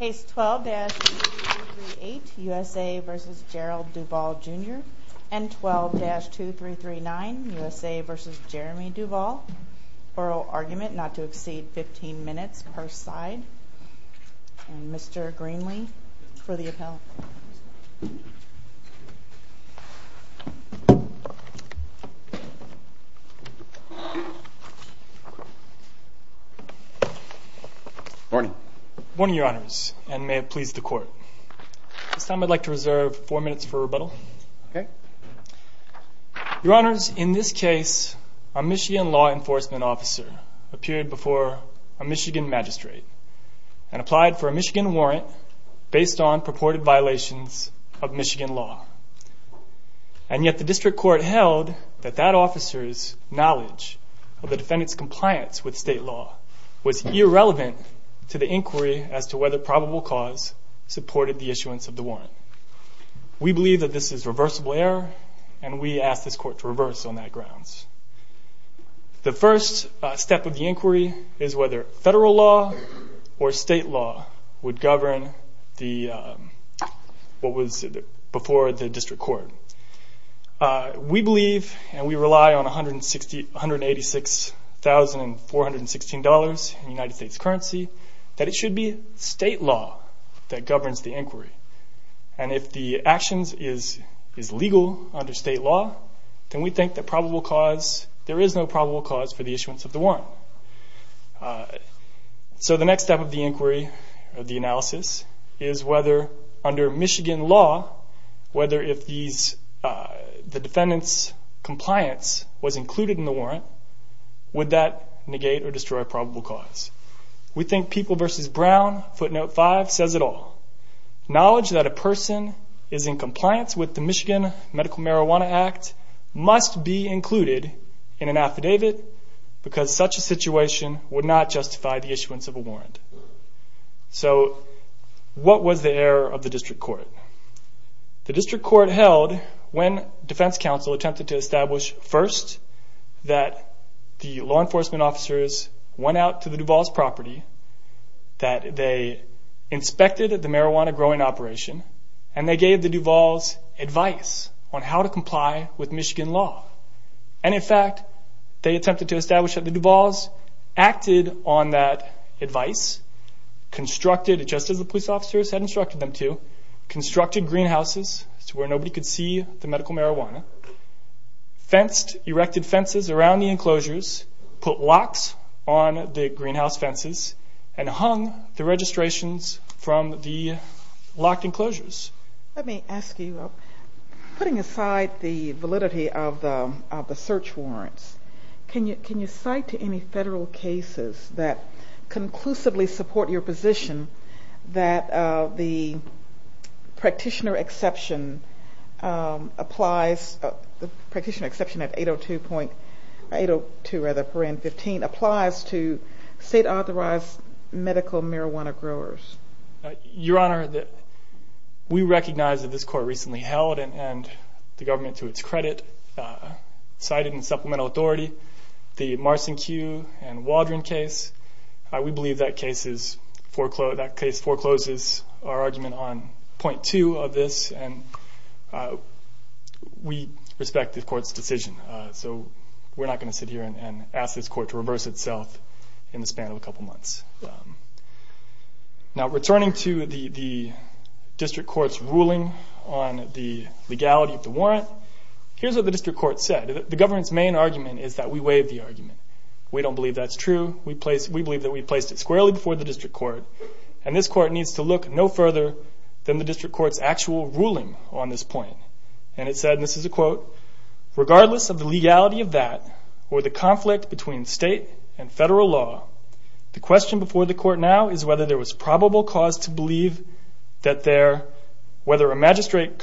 N12-2339 U.S.A. v. Jeremy Duval Oral argument not to exceed 15 minutes per side Mr. Greenlee for the appellate. Good morning. Good morning, your honors, and may it please the court. This time I'd like to reserve four minutes for rebuttal. Your honors, in this case, a Michigan law enforcement officer appeared before a Michigan magistrate and applied for a Michigan warrant based on purported violations of Michigan law. And yet the district court held that that officer's knowledge of the defendant's compliance with state law was irrelevant to the inquiry as to whether probable cause supported the issuance of the warrant. We believe that this is reversible error, and we ask this court to reverse on that grounds. The first step of the inquiry is whether federal law or state law would govern what was before the district court. We believe, and we rely on $186,416 in United States currency, that it should be state law that governs the inquiry. And if the actions is legal under state law, then we think there is no probable cause for the issuance of the warrant. So the next step of the inquiry, of the analysis, is whether under Michigan law, whether if the defendant's compliance was included in the warrant, would that negate or destroy probable cause. We think People v. Brown, footnote 5, says it all. Knowledge that a person is in compliance with the Michigan Medical Marijuana Act must be included in an affidavit because such a situation would not justify the issuance of a warrant. So what was the error of the district court? The district court held when defense counsel attempted to establish first that the law enforcement officers went out to the Duval's property, that they inspected the marijuana growing operation, and they gave the Duval's advice on how to comply with Michigan law. And in fact, they attempted to establish that the Duval's acted on that advice, constructed, just as the police officers had instructed them to, constructed greenhouses to where nobody could see the medical marijuana, fenced, erected fences around the enclosures, put locks on the greenhouse fences, and hung the registrations from the locked enclosures. Let me ask you, putting aside the validity of the search warrants, can you cite any federal cases that conclusively support your position that the practitioner exception applies, the practitioner exception of 802.15 applies to state authorized medical marijuana growers? Your Honor, we recognize that this court recently held, and the government to its credit, cited in supplemental authority the Marson Q and Waldron case. We believe that case forecloses our argument on 802.2 of this, and we respect the court's decision. So we're not going to sit here and ask this court to reverse itself in the span of a couple months. Now returning to the district court's ruling on the legality of the warrant, here's what the district court said. The government's main argument is that we waived the argument. We don't believe that's true. We believe that we placed it squarely before the district court, and this court needs to look no further than the district court's actual ruling on this point. And it said, and this is a quote, regardless of the legality of that, or the conflict between state and federal law, the question before the court now is whether there was probable cause to believe that there, whether a magistrate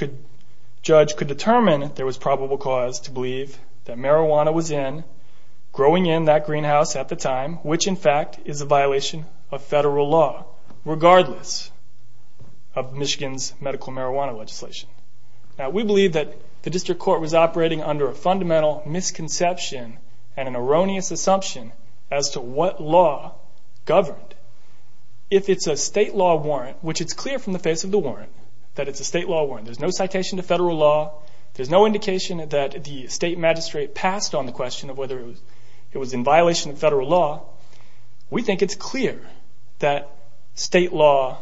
judge could determine there was probable cause to believe that marijuana was in, growing in that greenhouse at the time, which in fact is a violation of federal law, regardless of Michigan's medical marijuana legislation. Now we believe that the district court was operating under a fundamental misconception and an erroneous assumption as to what law governed. If it's a state law warrant, which it's clear from the face of the warrant, that it's a state law warrant, there's no citation to federal law, there's no indication that the state magistrate passed on the question of whether it was in violation of federal law, we think it's clear that state law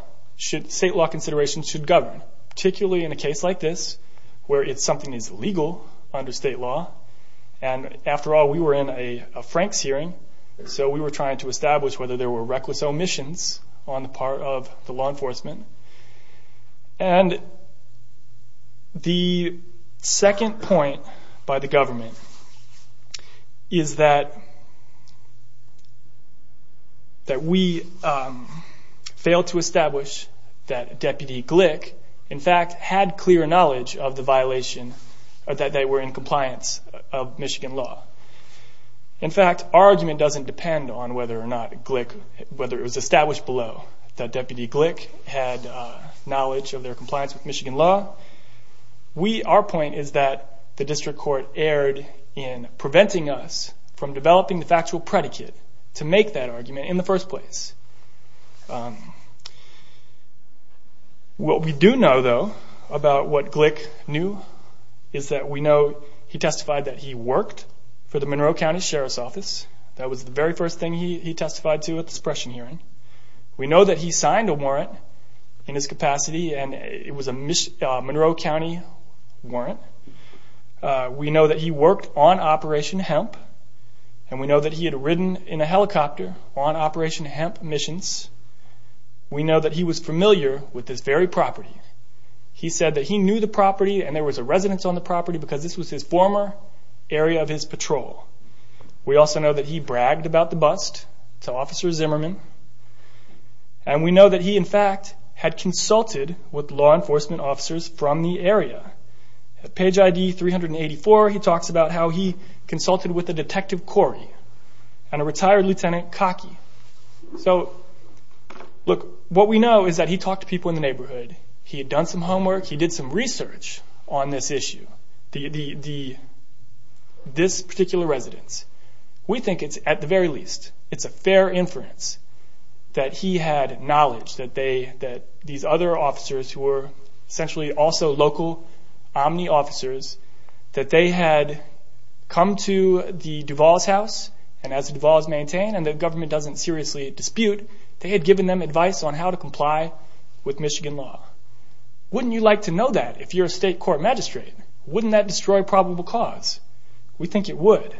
considerations should govern, particularly in a case like this, where something is legal under state law. And after all, we were in a Franks hearing, so we were trying to establish whether there were reckless omissions on the part of the law enforcement. And the second point by the government is that we failed to establish that Deputy Glick, in fact, had clear knowledge of the violation, that they were in compliance of Michigan law. In fact, our argument doesn't depend on whether or not Glick, whether it was established below that Deputy Glick had knowledge of their compliance with Michigan law. Our point is that the district court erred in preventing us from developing the factual predicate to make that argument in the first place. What we do know, though, about what Glick knew is that we know he testified that he worked for the Monroe County Sheriff's Office. That was the very first thing he testified to at the suppression hearing. We know that he signed a warrant in his capacity, and it was a Monroe County warrant. We know that he worked on Operation Hemp, and we know that he had ridden in a helicopter on Operation Hemp missions. We know that he was familiar with this very property. He said that he knew the property, and there was a residence on the property, because this was his former area of his patrol. We also know that he bragged about the bust to Officer Zimmerman, and we know that he, in fact, had consulted with law enforcement officers from the area. At page ID 384, he talks about how he consulted with a Detective Corey and a retired Lieutenant Cockey. What we know is that he talked to people in the neighborhood. He had done some homework. He did some research on this issue, this particular residence. We think it's, at the very least, it's a fair inference that he had knowledge that these other officers, who were essentially also local Omni officers, that they had come to the Duval's house, and as the Duval's maintain, and the government doesn't seriously dispute, they had given them advice on how to comply with Michigan law. Wouldn't you like to know that if you're a state court magistrate? Wouldn't that destroy probable cause? We think it would.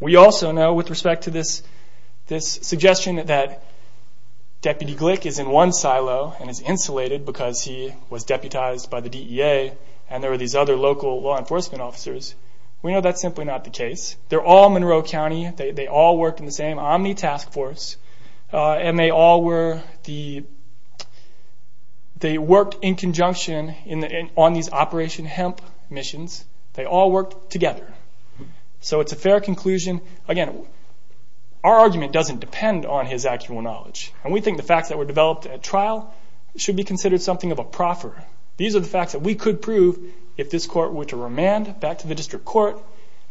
We also know, with respect to this suggestion that Deputy Glick is in one silo and is insulated because he was deputized by the DEA, and there were these other local law enforcement officers. We know that's simply not the case. They're all Monroe County. They all worked in the same Omni task force. They worked in conjunction on these Operation Hemp missions. They all worked together. It's a fair conclusion. Our argument doesn't depend on his actual knowledge. We think the facts that were developed at trial should be considered something of a proffer. These are the facts that we could prove if this court were to remand back to the district court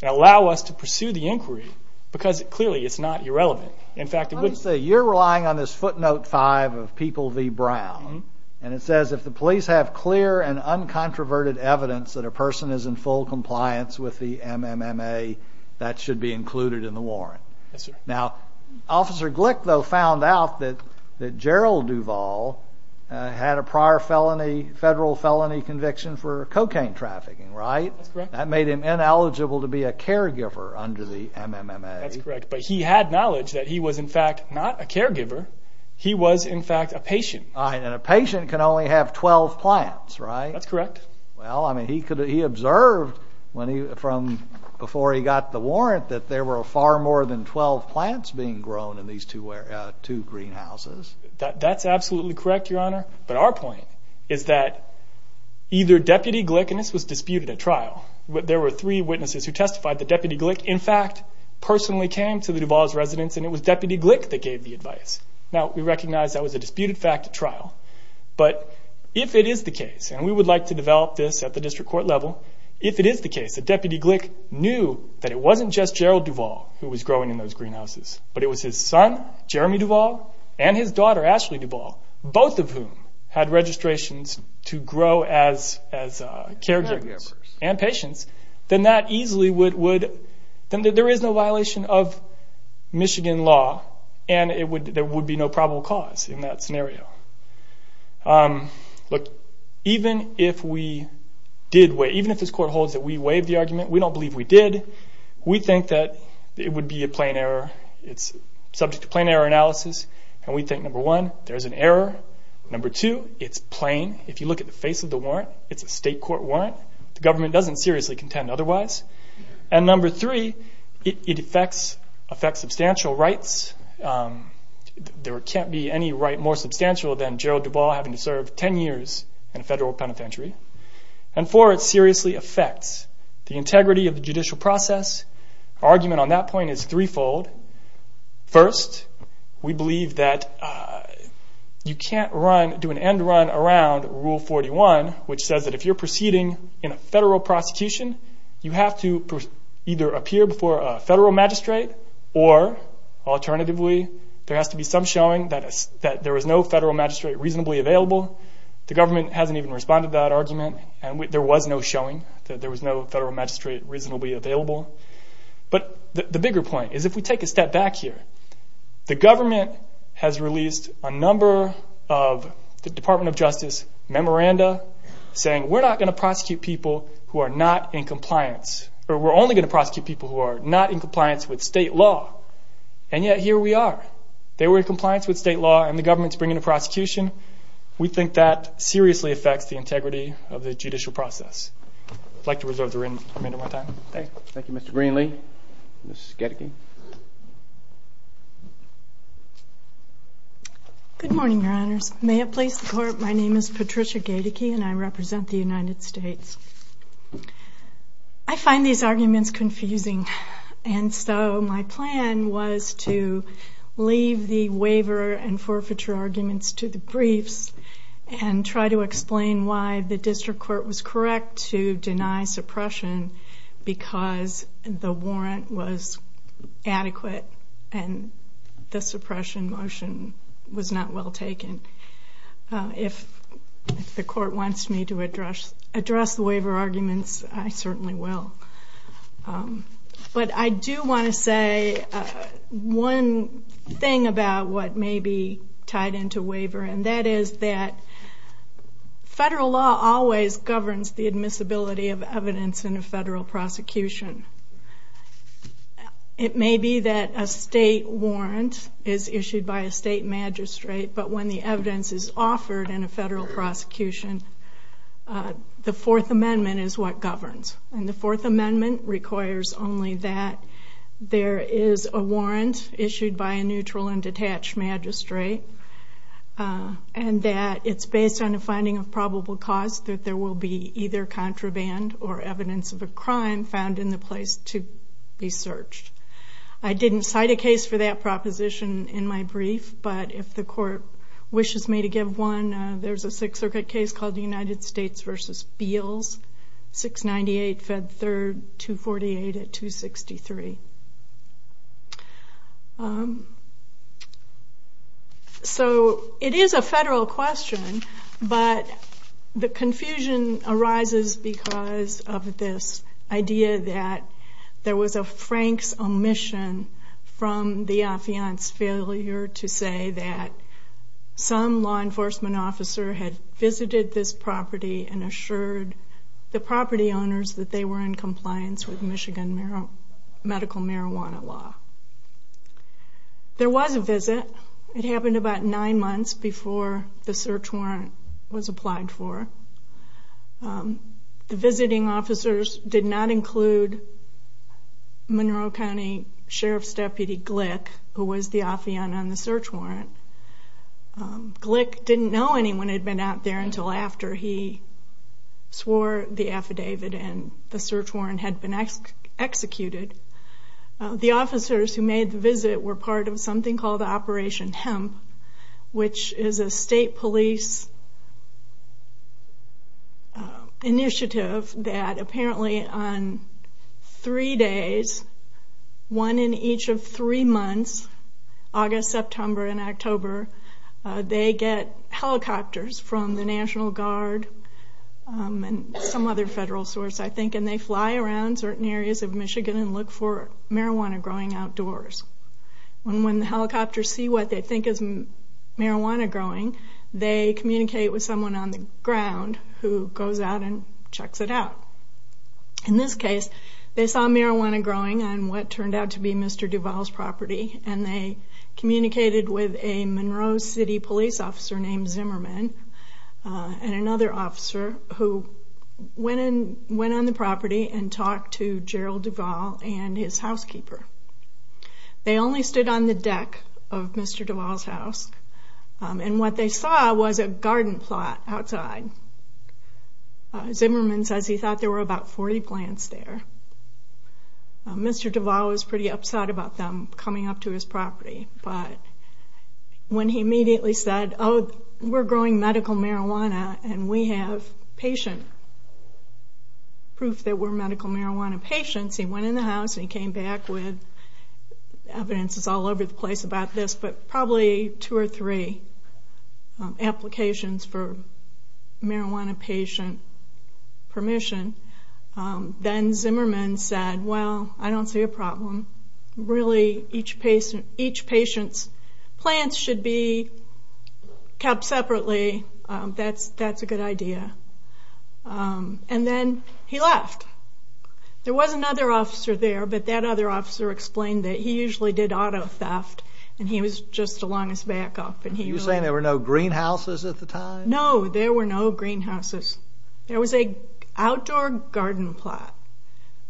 and allow us to pursue the inquiry, because clearly it's not irrelevant. You're relying on this footnote 5 of People v. Brown, and it says, if the police have clear and uncontroverted evidence that a person is in full compliance with the MMMA, that should be included in the warrant. Now, Officer Glick, though, found out that Gerald Duvall had a prior federal felony conviction for cocaine trafficking, right? That's correct. That made him ineligible to be a caregiver under the MMMA. That's correct, but he had knowledge that he was, in fact, not a caregiver. He was, in fact, a patient. And a patient can only have 12 plants, right? That's correct. Well, I mean, he observed from before he got the warrant that there were far more than 12 plants being grown in these two greenhouses. That's absolutely correct, Your Honor, but our point is that either Deputy Glick, and this was disputed at trial, there were three witnesses who testified that Deputy Glick, in fact, personally came to the Duvall's residence, and it was Deputy Glick that gave the advice. Now, we recognize that was a disputed fact at trial, but if it is the case, and we would like to develop this at the district court level, if it is the case that Deputy Glick knew that it wasn't just Gerald Duvall who was growing in those greenhouses, but it was his son, Jeremy Duvall, and his daughter, Ashley Duvall, both of whom had registrations to grow as caregivers and patients, then there is no violation of Michigan law, and there would be no probable cause in that scenario. Look, even if this court holds that we waived the argument, we don't believe we did. We think that it would be a plain error. It's subject to plain error analysis, and we think, number one, there's an error. Number two, it's plain. If you look at the face of the warrant, it's a state court warrant. The government doesn't seriously contend otherwise. And number three, it affects substantial rights. There can't be any right more substantial than Gerald Duvall having to serve 10 years in a federal penitentiary. And four, it seriously affects the integrity of the judicial process. Our argument on that point is threefold. First, we believe that you can't do an end run around Rule 41, which says that if you're proceeding in a federal prosecution, you have to either appear before a federal magistrate, or alternatively, there has to be some showing that there was no federal magistrate reasonably available. The government hasn't even responded to that argument, and there was no showing that there was no federal magistrate reasonably available. But the bigger point is if we take a step back here, the government has released a number of the Department of Justice memoranda saying, we're not going to prosecute people who are not in compliance, with state law, and yet here we are. They were in compliance with state law, and the government's bringing a prosecution. We think that seriously affects the integrity of the judicial process. Thank you, Mr. Greenlee. Good morning, Your Honors. May it please the Court, my name is Patricia Gaedeke, and I represent the United States. I find these arguments confusing, and so my plan was to leave the waiver and forfeiture arguments to the briefs, and try to explain why the district court was correct to deny suppression, because the warrant was adequate, and the suppression motion was not well taken. If the Court wants me to address the waiver arguments, I certainly will. But I do want to say one thing about what may be tied into waiver, and that is that federal law always governs the admissibility of evidence in a federal prosecution. It may be that a state warrant is issued by a state magistrate, but when the evidence is offered in a federal prosecution, the Fourth Amendment is what governs. And the Fourth Amendment requires only that there is a warrant issued by a neutral and detached magistrate, and that it's based on a finding of probable cause that there will be either contraband or evidence of a crime found in the place to be searched. I didn't cite a case for that proposition in my brief, but if the Court wishes me to give one, there's a Sixth Circuit case called the United States v. Beals, 698 Fed 3rd, 248 at 263. So it is a federal question, but the confusion arises because of this idea that there was a Frank's omission from the affiance failure to say that some law enforcement officer had visited this property and assured the property owners that they were in compliance with Michigan medical marijuana law. There was a visit. It happened about nine months before the search warrant was applied for. The visiting officers did not include Monroe County Sheriff's Deputy Glick, who was the affiant on the search warrant. Glick didn't know anyone had been out there until after he swore the affidavit and the search warrant had been executed. The officers who made the visit were part of something called Operation Hemp, which is a state police initiative that apparently on three days, one in each of three months, August, September, and October, they get helicopters from the National Guard and some other federal source, I think, and they fly around certain areas of Michigan and look for marijuana growing outdoors. When the helicopters see what they think is marijuana growing, they communicate with someone on the ground who goes out and checks it out. In this case, they saw marijuana growing on what turned out to be Mr. Duval's property and they communicated with a Monroe City police officer named Zimmerman and another officer who went on the property and talked to Gerald Duval and his housekeeper. They only stood on the deck of Mr. Duval's house and what they saw was a garden plot outside. Zimmerman says he thought there were about 40 plants there. Mr. Duval was pretty upset about them coming up to his property, but when he immediately said, oh, we're growing medical marijuana and we have patient proof that we're medical marijuana patients, he went in the house and he came back with evidence that's all over the place about this, but probably two or three applications for marijuana patient permission. Then Zimmerman said, well, I don't see a problem. Really, each patient's plants should be kept separately. That's a good idea. And then he left. There was another officer there, but that other officer explained that he usually did auto theft and he was just along his back up. You're saying there were no greenhouses at the time? No, there were no greenhouses. There was an outdoor garden plot,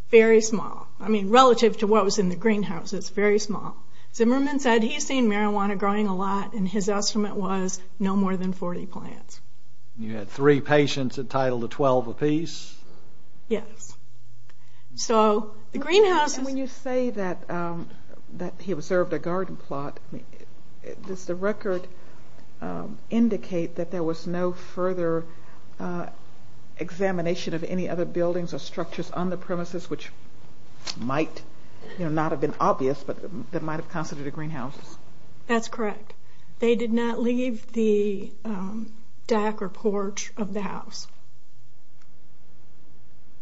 very small. I mean, relative to what was in the greenhouses, very small. Zimmerman said he's seen marijuana growing a lot and his estimate was no more than 40 plants. You had three patients entitled to 12 apiece? Yes. When you say that he observed a garden plot, does the record indicate that there was no further examination of any other buildings or structures on the premises, which might not have been obvious, but that might have considered a greenhouse? That's correct. They did not leave the deck or porch of the house,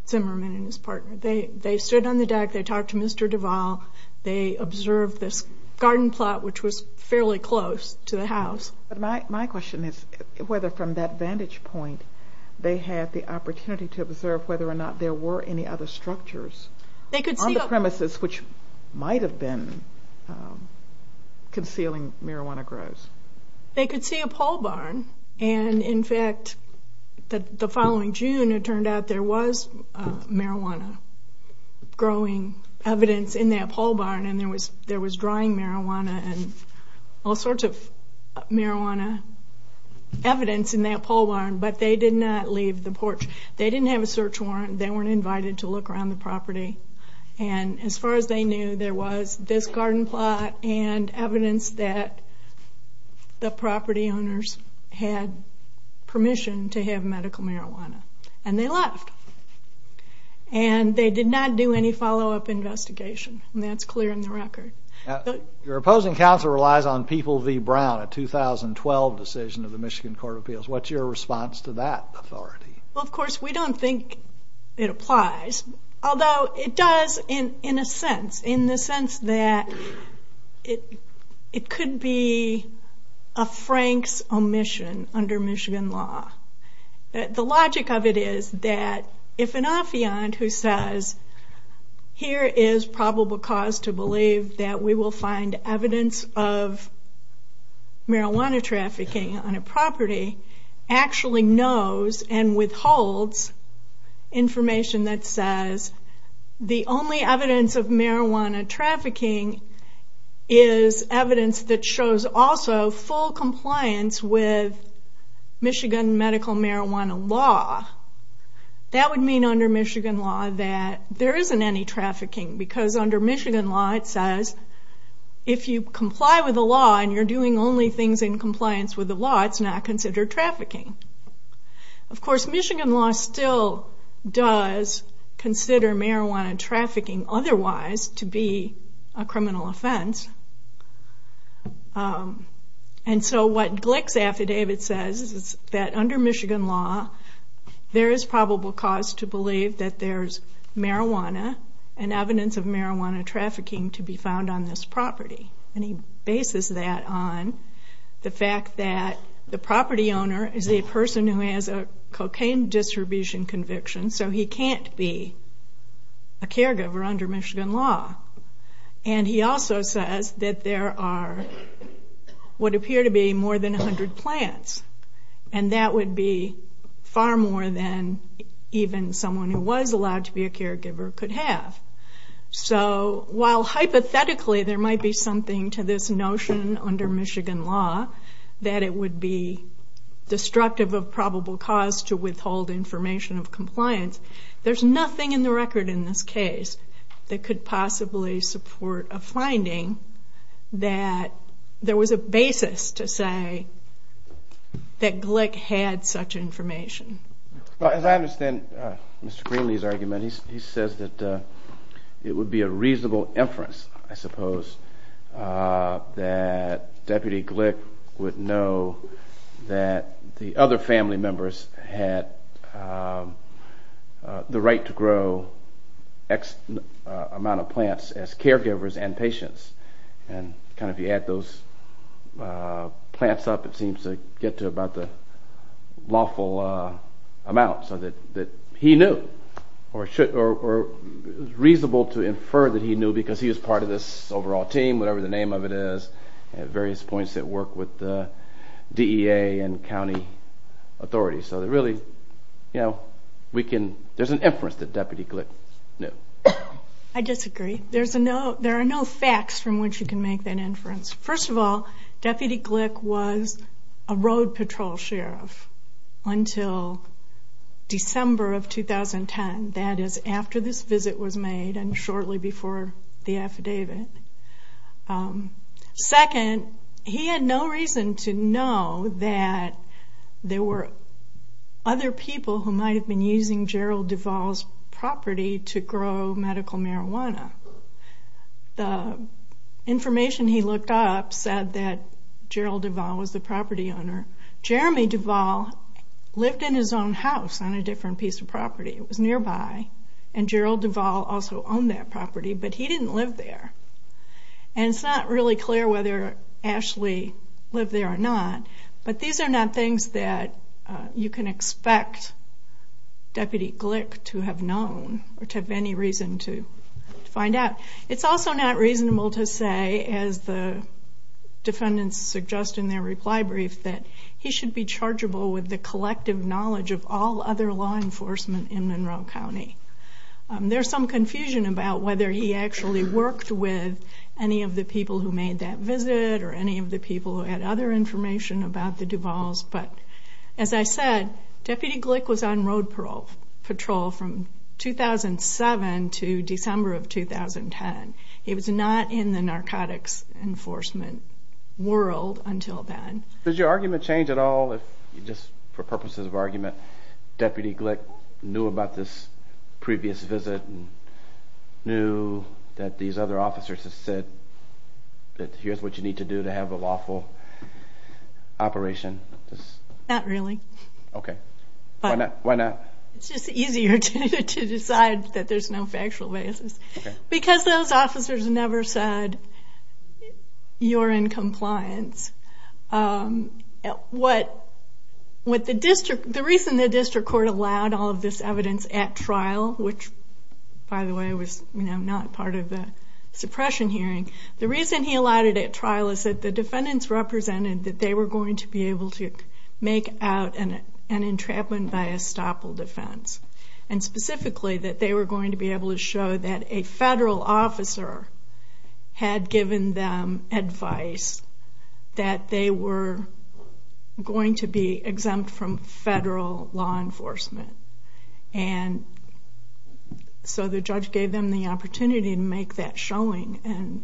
Zimmerman and his partner. They stood on the deck. They talked to Mr. Duval. They observed this garden plot, which was fairly close to the house. My question is whether from that vantage point they had the opportunity to observe whether or not there were any other structures on the premises which might have been concealing marijuana grows. They could see a pole barn. In fact, the following June it turned out there was marijuana growing evidence in that pole barn. There was drying marijuana and all sorts of marijuana evidence in that pole barn, but they did not leave the porch. They didn't have a search warrant. They weren't invited to look around the property. As far as they knew, there was this garden plot and evidence that the property owners had permission to have medical marijuana, and they left. They did not do any follow-up investigation, and that's clear in the record. Your opposing counsel relies on People v. Brown, a 2012 decision of the Michigan Court of Appeals. What's your response to that authority? Of course, we don't think it applies, although it does in a sense, in the sense that it could be a Frank's omission under Michigan law. The logic of it is that if an affiant who says, here is probable cause to believe that we will find evidence of marijuana trafficking on a property, actually knows and withholds information that says the only evidence of marijuana trafficking is evidence that shows also full compliance with Michigan medical marijuana law, that would mean under Michigan law that there isn't any trafficking, because under Michigan law it says if you comply with the law and you're doing only things in compliance with the law, it's not considered trafficking. Of course, Michigan law still does consider marijuana trafficking otherwise to be a criminal offense, and so what Glick's affidavit says is that under Michigan law, there is probable cause to believe that there's marijuana and evidence of marijuana trafficking to be found on this property, and he bases that on the fact that the property owner is a person who has a cocaine distribution conviction, so he can't be a caregiver under Michigan law, and he also says that there are what appear to be more than 100 plants, and that would be far more than even someone who was allowed to be a caregiver could have. So while hypothetically there might be something to this notion under Michigan law that it would be destructive of probable cause to withhold information of compliance, there's nothing in the record in this case that could possibly support a finding that there was a basis to say that Glick had such information. As I understand Mr. Greenlee's argument, he says that it would be a reasonable inference, I suppose, that Deputy Glick would know that the other family members had the right to grow X amount of plants as caregivers and patients, and kind of if you add those plants up, it seems to get to about the lawful amount that he knew, or it's reasonable to infer that he knew because he was part of this overall team, whatever the name of it is, at various points that work with the DEA and county authorities, so there's an inference that Deputy Glick knew. I disagree. There are no facts from which you can make that inference. First of all, Deputy Glick was a road patrol sheriff until December of 2010, that is after this visit was made and shortly before the affidavit. Second, he had no reason to know that there were other people who might have been using Gerald Duvall's property to grow medical marijuana. The information he looked up said that Gerald Duvall was the property owner. Jeremy Duvall lived in his own house on a different piece of property. It was nearby, and Gerald Duvall also owned that property, but he didn't live there, and it's not really clear whether Ashley lived there or not, but these are not things that you can expect Deputy Glick to have known or to have any reason to find out. It's also not reasonable to say, as the defendants suggest in their reply brief, that he should be chargeable with the collective knowledge of all other law enforcement in Monroe County. There's some confusion about whether he actually worked with any of the people who made that visit or any of the people who had other information about the Duvalls, but as I said, Deputy Glick was on road patrol from 2007 to December of 2010. He was not in the narcotics enforcement world until then. Does your argument change at all if, just for purposes of argument, Deputy Glick knew about this previous visit and knew that these other officers had said that here's what you need to do to have a lawful operation? Not really. Why not? It's just easier to decide that there's no factual basis, because those officers never said, you're in compliance. The reason the district court allowed all of this evidence at trial, which, by the way, was not part of the suppression hearing, the reason he allowed it at trial is that the defendants represented that they were going to be able to make out an entrapment by estoppel defense, and specifically that they were going to be able to show that a federal officer had given them advice that they were going to be exempt from federal law enforcement. So the judge gave them the opportunity to make that showing and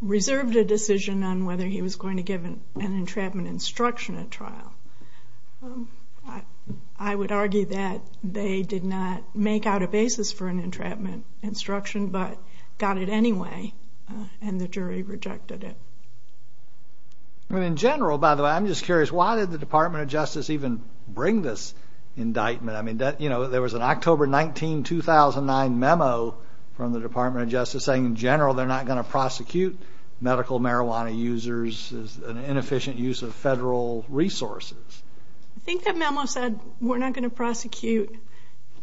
reserved a decision on whether he was going to give an entrapment instruction at trial. I would argue that they did not make out a basis for an entrapment instruction, but got it anyway, and the jury rejected it. In general, by the way, I'm just curious, why did the Department of Justice even bring this indictment? I mean, there was an October 19, 2009 memo from the Department of Justice saying, in general, they're not going to prosecute medical marijuana users as an inefficient use of federal resources. I think that memo said, we're not going to prosecute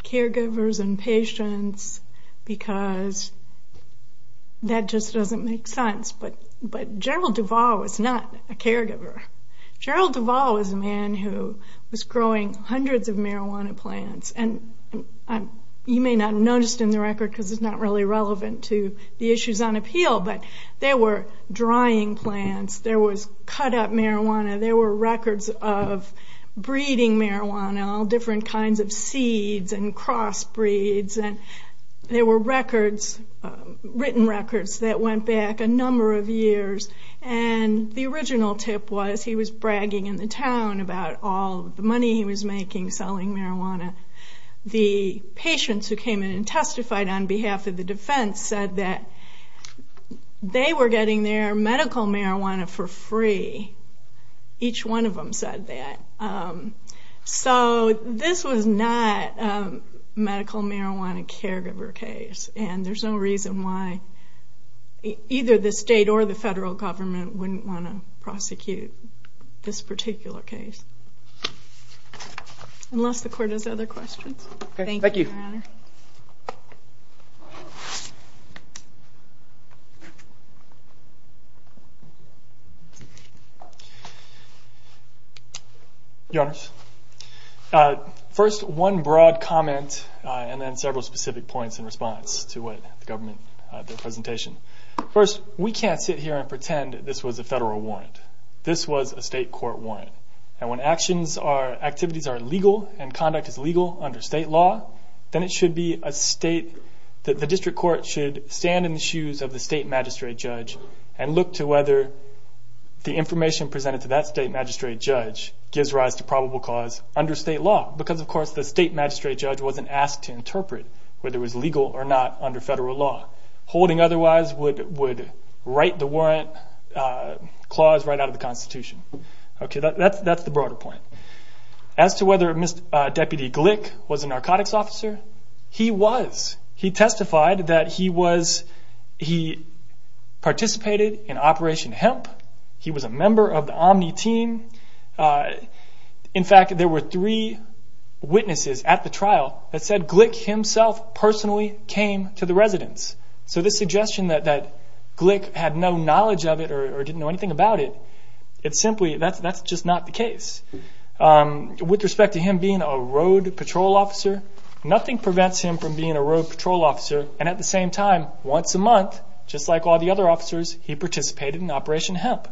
caregivers and patients because that just doesn't make sense. But General Duval was not a caregiver. General Duval was a man who was growing hundreds of marijuana plants, and you may not have noticed in the record, because it's not really relevant to the issues on appeal, but there were drying plants, there was cut-up marijuana, there were records of breeding marijuana, all different kinds of seeds and crossbreeds, and there were records, written records, that went back a number of years. And the original tip was, he was bragging in the town about all the money he was making selling marijuana. The patients who came in and testified on behalf of the defense said that they were getting their medical marijuana for free. Each one of them said that. So this was not a medical marijuana caregiver case, and there's no reason why either the state or the federal government wouldn't want to prosecute this particular case. Unless the court has other questions. Your Honors, first one broad comment, and then several specific points in response to the government presentation. First, we can't sit here and pretend this was a federal warrant. This was a state court warrant. And when activities are legal and conduct is legal under state law, then the district court should stand in the shoes of the state magistrate judge and look to whether the information presented to that state magistrate judge gives rise to probable cause under state law. Because of course the state magistrate judge wasn't asked to interpret whether it was legal or not under federal law. Holding otherwise would write the warrant clause right out of the Constitution. That's the broader point. As to whether Deputy Glick was a narcotics officer, he was. He testified that he participated in Operation Hemp. He was a member of the Omni team. In fact, there were three witnesses at the trial that said Glick himself personally came to the residence. So this suggestion that Glick had no knowledge of it or didn't know anything about it, that's just not the case. With respect to him being a road patrol officer, nothing prevents him from being a road patrol officer. And at the same time, once a month, just like all the other officers, he participated in Operation Hemp.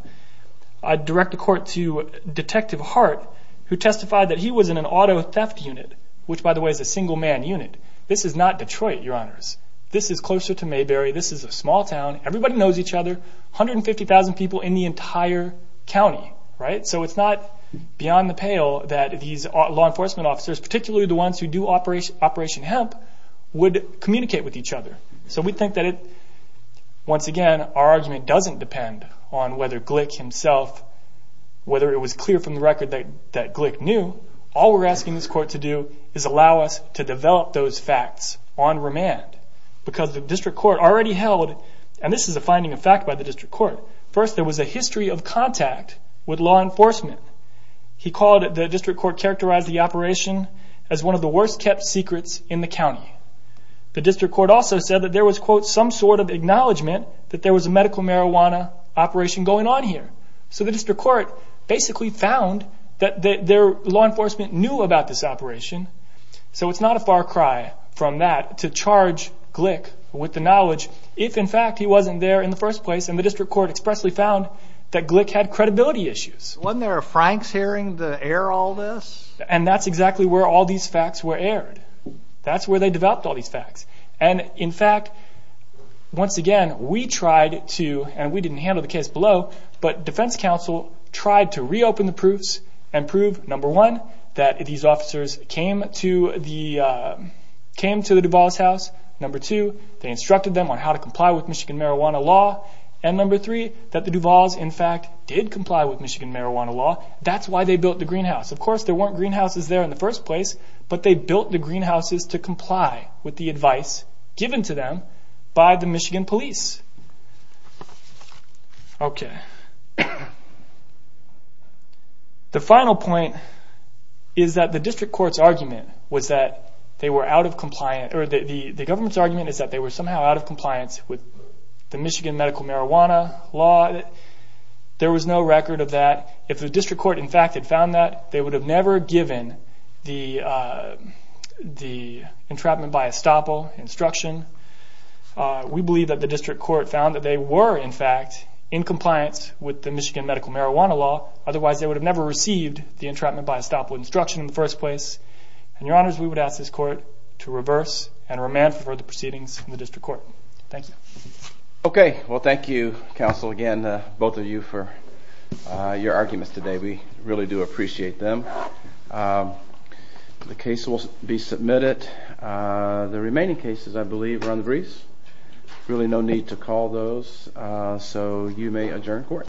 I direct the court to Detective Hart, who testified that he was in an auto theft unit, which by the way is a single man unit. This is not Detroit, Your Honors. This is closer to Mayberry. This is a small town. Everybody knows each other. 150,000 people in the entire county. So it's not beyond the pale that these law enforcement officers, particularly the ones who do Operation Hemp, would communicate with each other. Once again, our argument doesn't depend on whether Glick himself, whether it was clear from the record that Glick knew. All we're asking this court to do is allow us to develop those facts on remand. This is a finding of fact by the district court. First, there was a history of contact with law enforcement. The district court characterized the operation as one of the worst kept secrets in the county. The district court also said that there was some sort of acknowledgement that there was a medical marijuana operation going on here. The district court basically found that law enforcement knew about this operation. So it's not a far cry from that to charge Glick with the knowledge, if in fact he wasn't there in the first place and the district court expressly found that Glick had credibility issues. Wasn't there a Franks hearing to air all this? That's exactly where all these facts were aired. That's where they developed all these facts. In fact, once again, we tried to, and we didn't handle the case below, but defense counsel tried to reopen the proofs and prove, number one, that these officers came to the Duval's house. Number two, they instructed them on how to comply with Michigan marijuana law. Number three, that the Duval's in fact did comply with Michigan marijuana law. That's why they built the greenhouse. Of course, there weren't greenhouses there in the first place, but they built the greenhouses to comply with the advice given to them by the Michigan police. The final point is that the government's argument is that they were somehow out of compliance with the Michigan medical marijuana law. There was no record of that. If the district court in fact had found that, they would have never given the entrapment by estoppel instruction. We believe that the district court found that they were in fact in compliance with the Michigan medical marijuana law. Otherwise, they would have never received the entrapment by estoppel instruction in the first place. Your honors, we would ask this court to reverse and remand for the proceedings in the district court. Thank you.